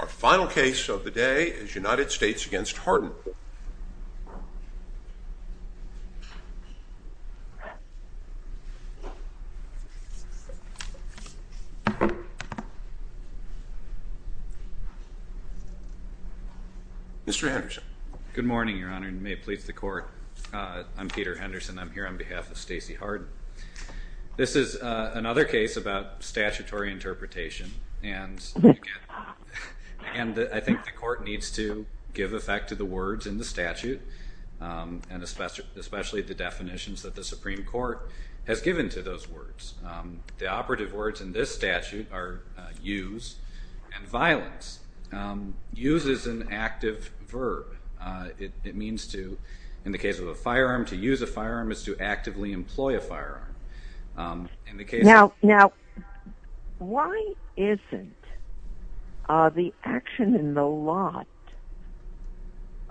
Our final case of the day is United States v. Harden. Mr. Henderson. Good morning, Your Honor, and may it please the Court. I'm Peter Henderson. I'm here on behalf of Stacy Harden. This is another case about statutory interpretation, and I think the Court needs to give effect to the words in the statute, and especially the definitions that the Supreme Court has given to those words. The operative words in this statute are use and violence. Use is an active verb. It means to, in the case of a firearm, to use a firearm is to actively employ a firearm. Now, why isn't the action in the lot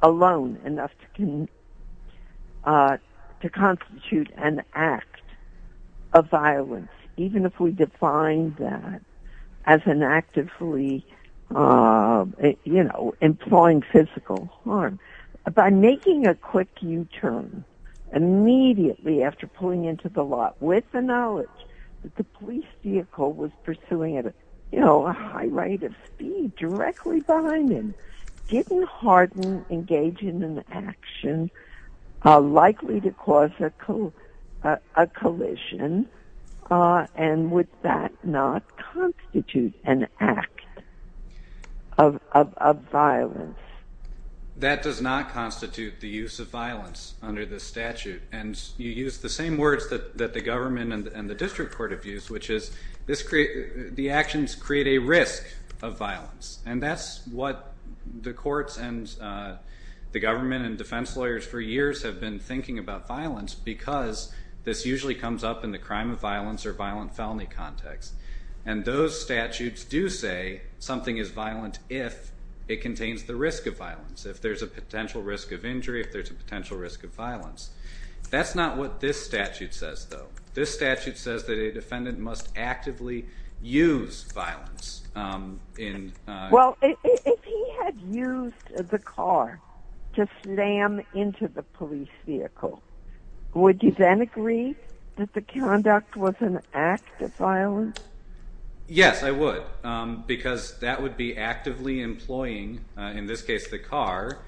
alone enough to constitute an act of violence, even if we define that as an actively, you know, employing physical harm? By making a quick U-turn immediately after pulling into the lot with the knowledge that the police vehicle was pursuing at, you know, a high rate of speed directly behind him, didn't Harden engage in an action likely to cause a collision, and would that not constitute an act of violence? That does not constitute the use of violence under this statute, and you use the same words that the government and the district court have used, which is the actions create a risk of violence, and that's what the courts and the government and defense lawyers for years have been thinking about violence, because this usually comes up in the crime of violence or violent felony context, and those statutes do say something is violent if it contains the risk of violence, if there's a potential risk of injury, if there's a potential risk of violence. That's not what this statute says, though. This statute says that a defendant must actively use violence. Well, if he had used the car to slam into the police vehicle, would you then agree that the conduct was an act of violence? Yes, I would, because that would be actively employing, in this case the car,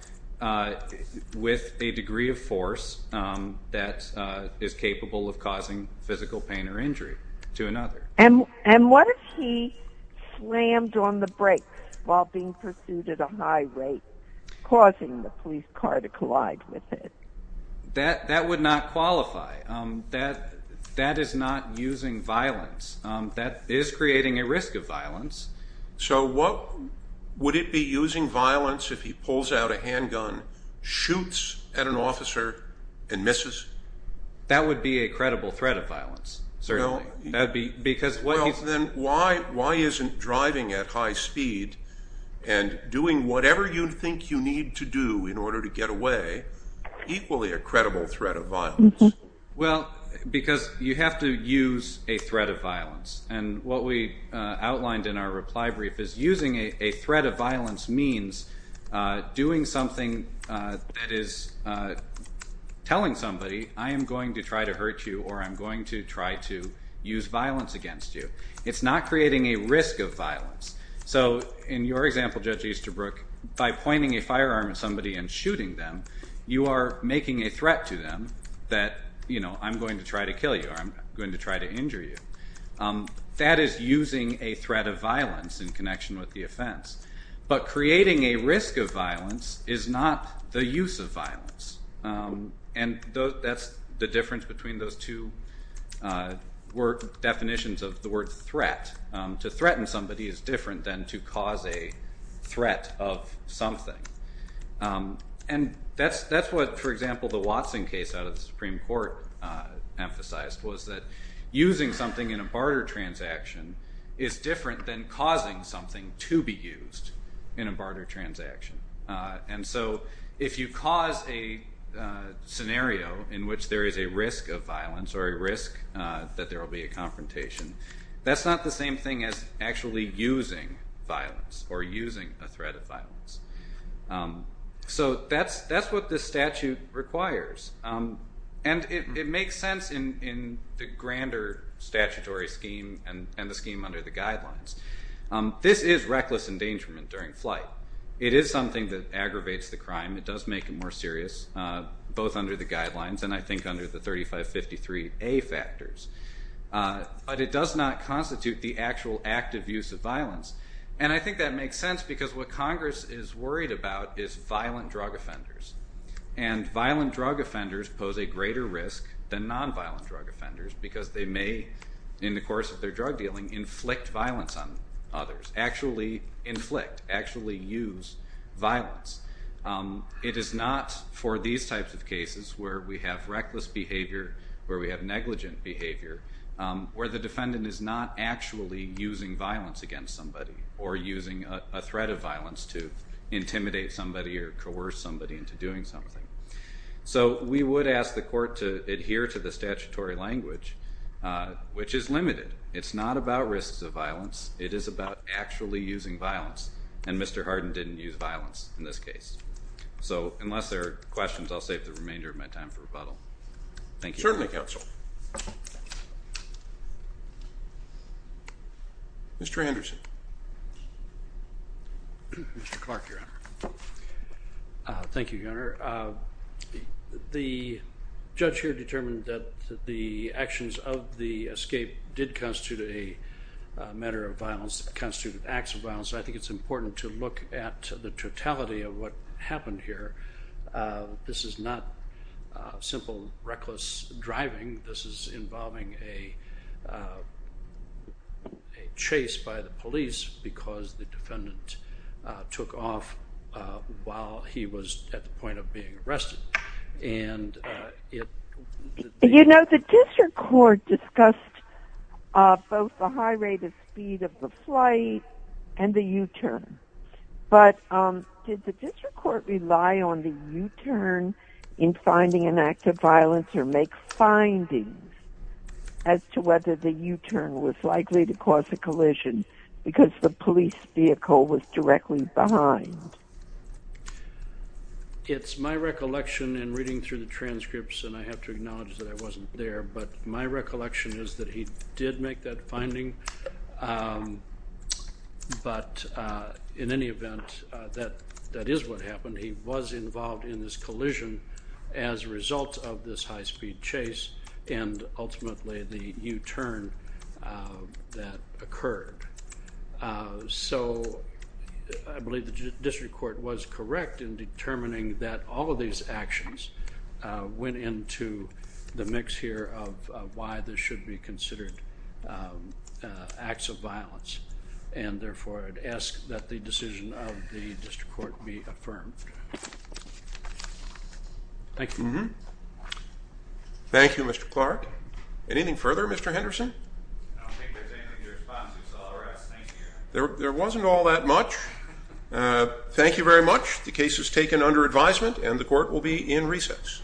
with a degree of force that is capable of causing physical pain or injury to another. And what if he slammed on the brakes while being pursued at a high rate, causing the police car to collide with it? That would not qualify. That is not using violence. That is creating a risk of violence. So would it be using violence if he pulls out a handgun, shoots at an officer, and misses? That would be a credible threat of violence, certainly. Well, then why isn't driving at high speed and doing whatever you think you need to do in order to get away equally a credible threat of violence? Well, because you have to use a threat of violence. And what we outlined in our reply brief is using a threat of violence means doing something that is telling somebody, I am going to try to hurt you or I'm going to try to use violence against you. It's not creating a risk of violence. So in your example, Judge Easterbrook, by pointing a firearm at somebody and shooting them, you are making a threat to them that, you know, I'm going to try to kill you or I'm going to try to injure you. That is using a threat of violence in connection with the offense. But creating a risk of violence is not the use of violence. And that's the difference between those two definitions of the word threat. To threaten somebody is different than to cause a threat of something. And that's what, for example, the Watson case out of the Supreme Court emphasized, was that using something in a barter transaction is different than causing something to be used in a barter transaction. And so if you cause a scenario in which there is a risk of violence or a risk that there will be a confrontation, that's not the same thing as actually using violence or using a threat of violence. So that's what this statute requires. And it makes sense in the grander statutory scheme and the scheme under the guidelines. This is reckless endangerment during flight. It is something that aggravates the crime. It does make it more serious, both under the guidelines and, I think, under the 3553A factors. But it does not constitute the actual active use of violence. And I think that makes sense because what Congress is worried about is violent drug offenders. And violent drug offenders pose a greater risk than nonviolent drug offenders because they may, in the course of their drug dealing, inflict violence on others. Actually inflict, actually use violence. It is not for these types of cases where we have reckless behavior, where we have negligent behavior, where the defendant is not actually using violence against somebody or using a threat of violence to intimidate somebody or coerce somebody into doing something. So we would ask the court to adhere to the statutory language, which is limited. It's not about risks of violence. It is about actually using violence. And Mr. Harden didn't use violence in this case. So unless there are questions, I'll save the remainder of my time for rebuttal. Thank you. Certainly, counsel. Mr. Anderson. Mr. Clark, Your Honor. Thank you, Your Honor. The judge here determined that the actions of the escape did constitute a matter of violence, constituted acts of violence, and I think it's important to look at the totality of what happened here. This is not simple, reckless driving. This is involving a chase by the police because the defendant took off while he was at the point of being arrested. You know, the district court discussed both the high rate of speed of the flight and the U-turn. But did the district court rely on the U-turn in finding an act of violence or make findings as to whether the U-turn was likely to cause a collision because the police vehicle was directly behind? It's my recollection in reading through the transcripts, and I have to acknowledge that I wasn't there, but my recollection is that he did make that finding. But in any event, that is what happened. He was involved in this collision as a result of this high speed chase and ultimately the U-turn that occurred. So I believe the district court was correct in determining that all of these actions went into the mix here of why this should be considered acts of violence, and therefore I'd ask that the decision of the district court be affirmed. Thank you. Thank you, Mr. Clark. Anything further, Mr. Henderson? I don't think there's anything to respond to, so I'll arrest. Thank you. There wasn't all that much. Thank you very much. The case is taken under advisement, and the court will be in recess.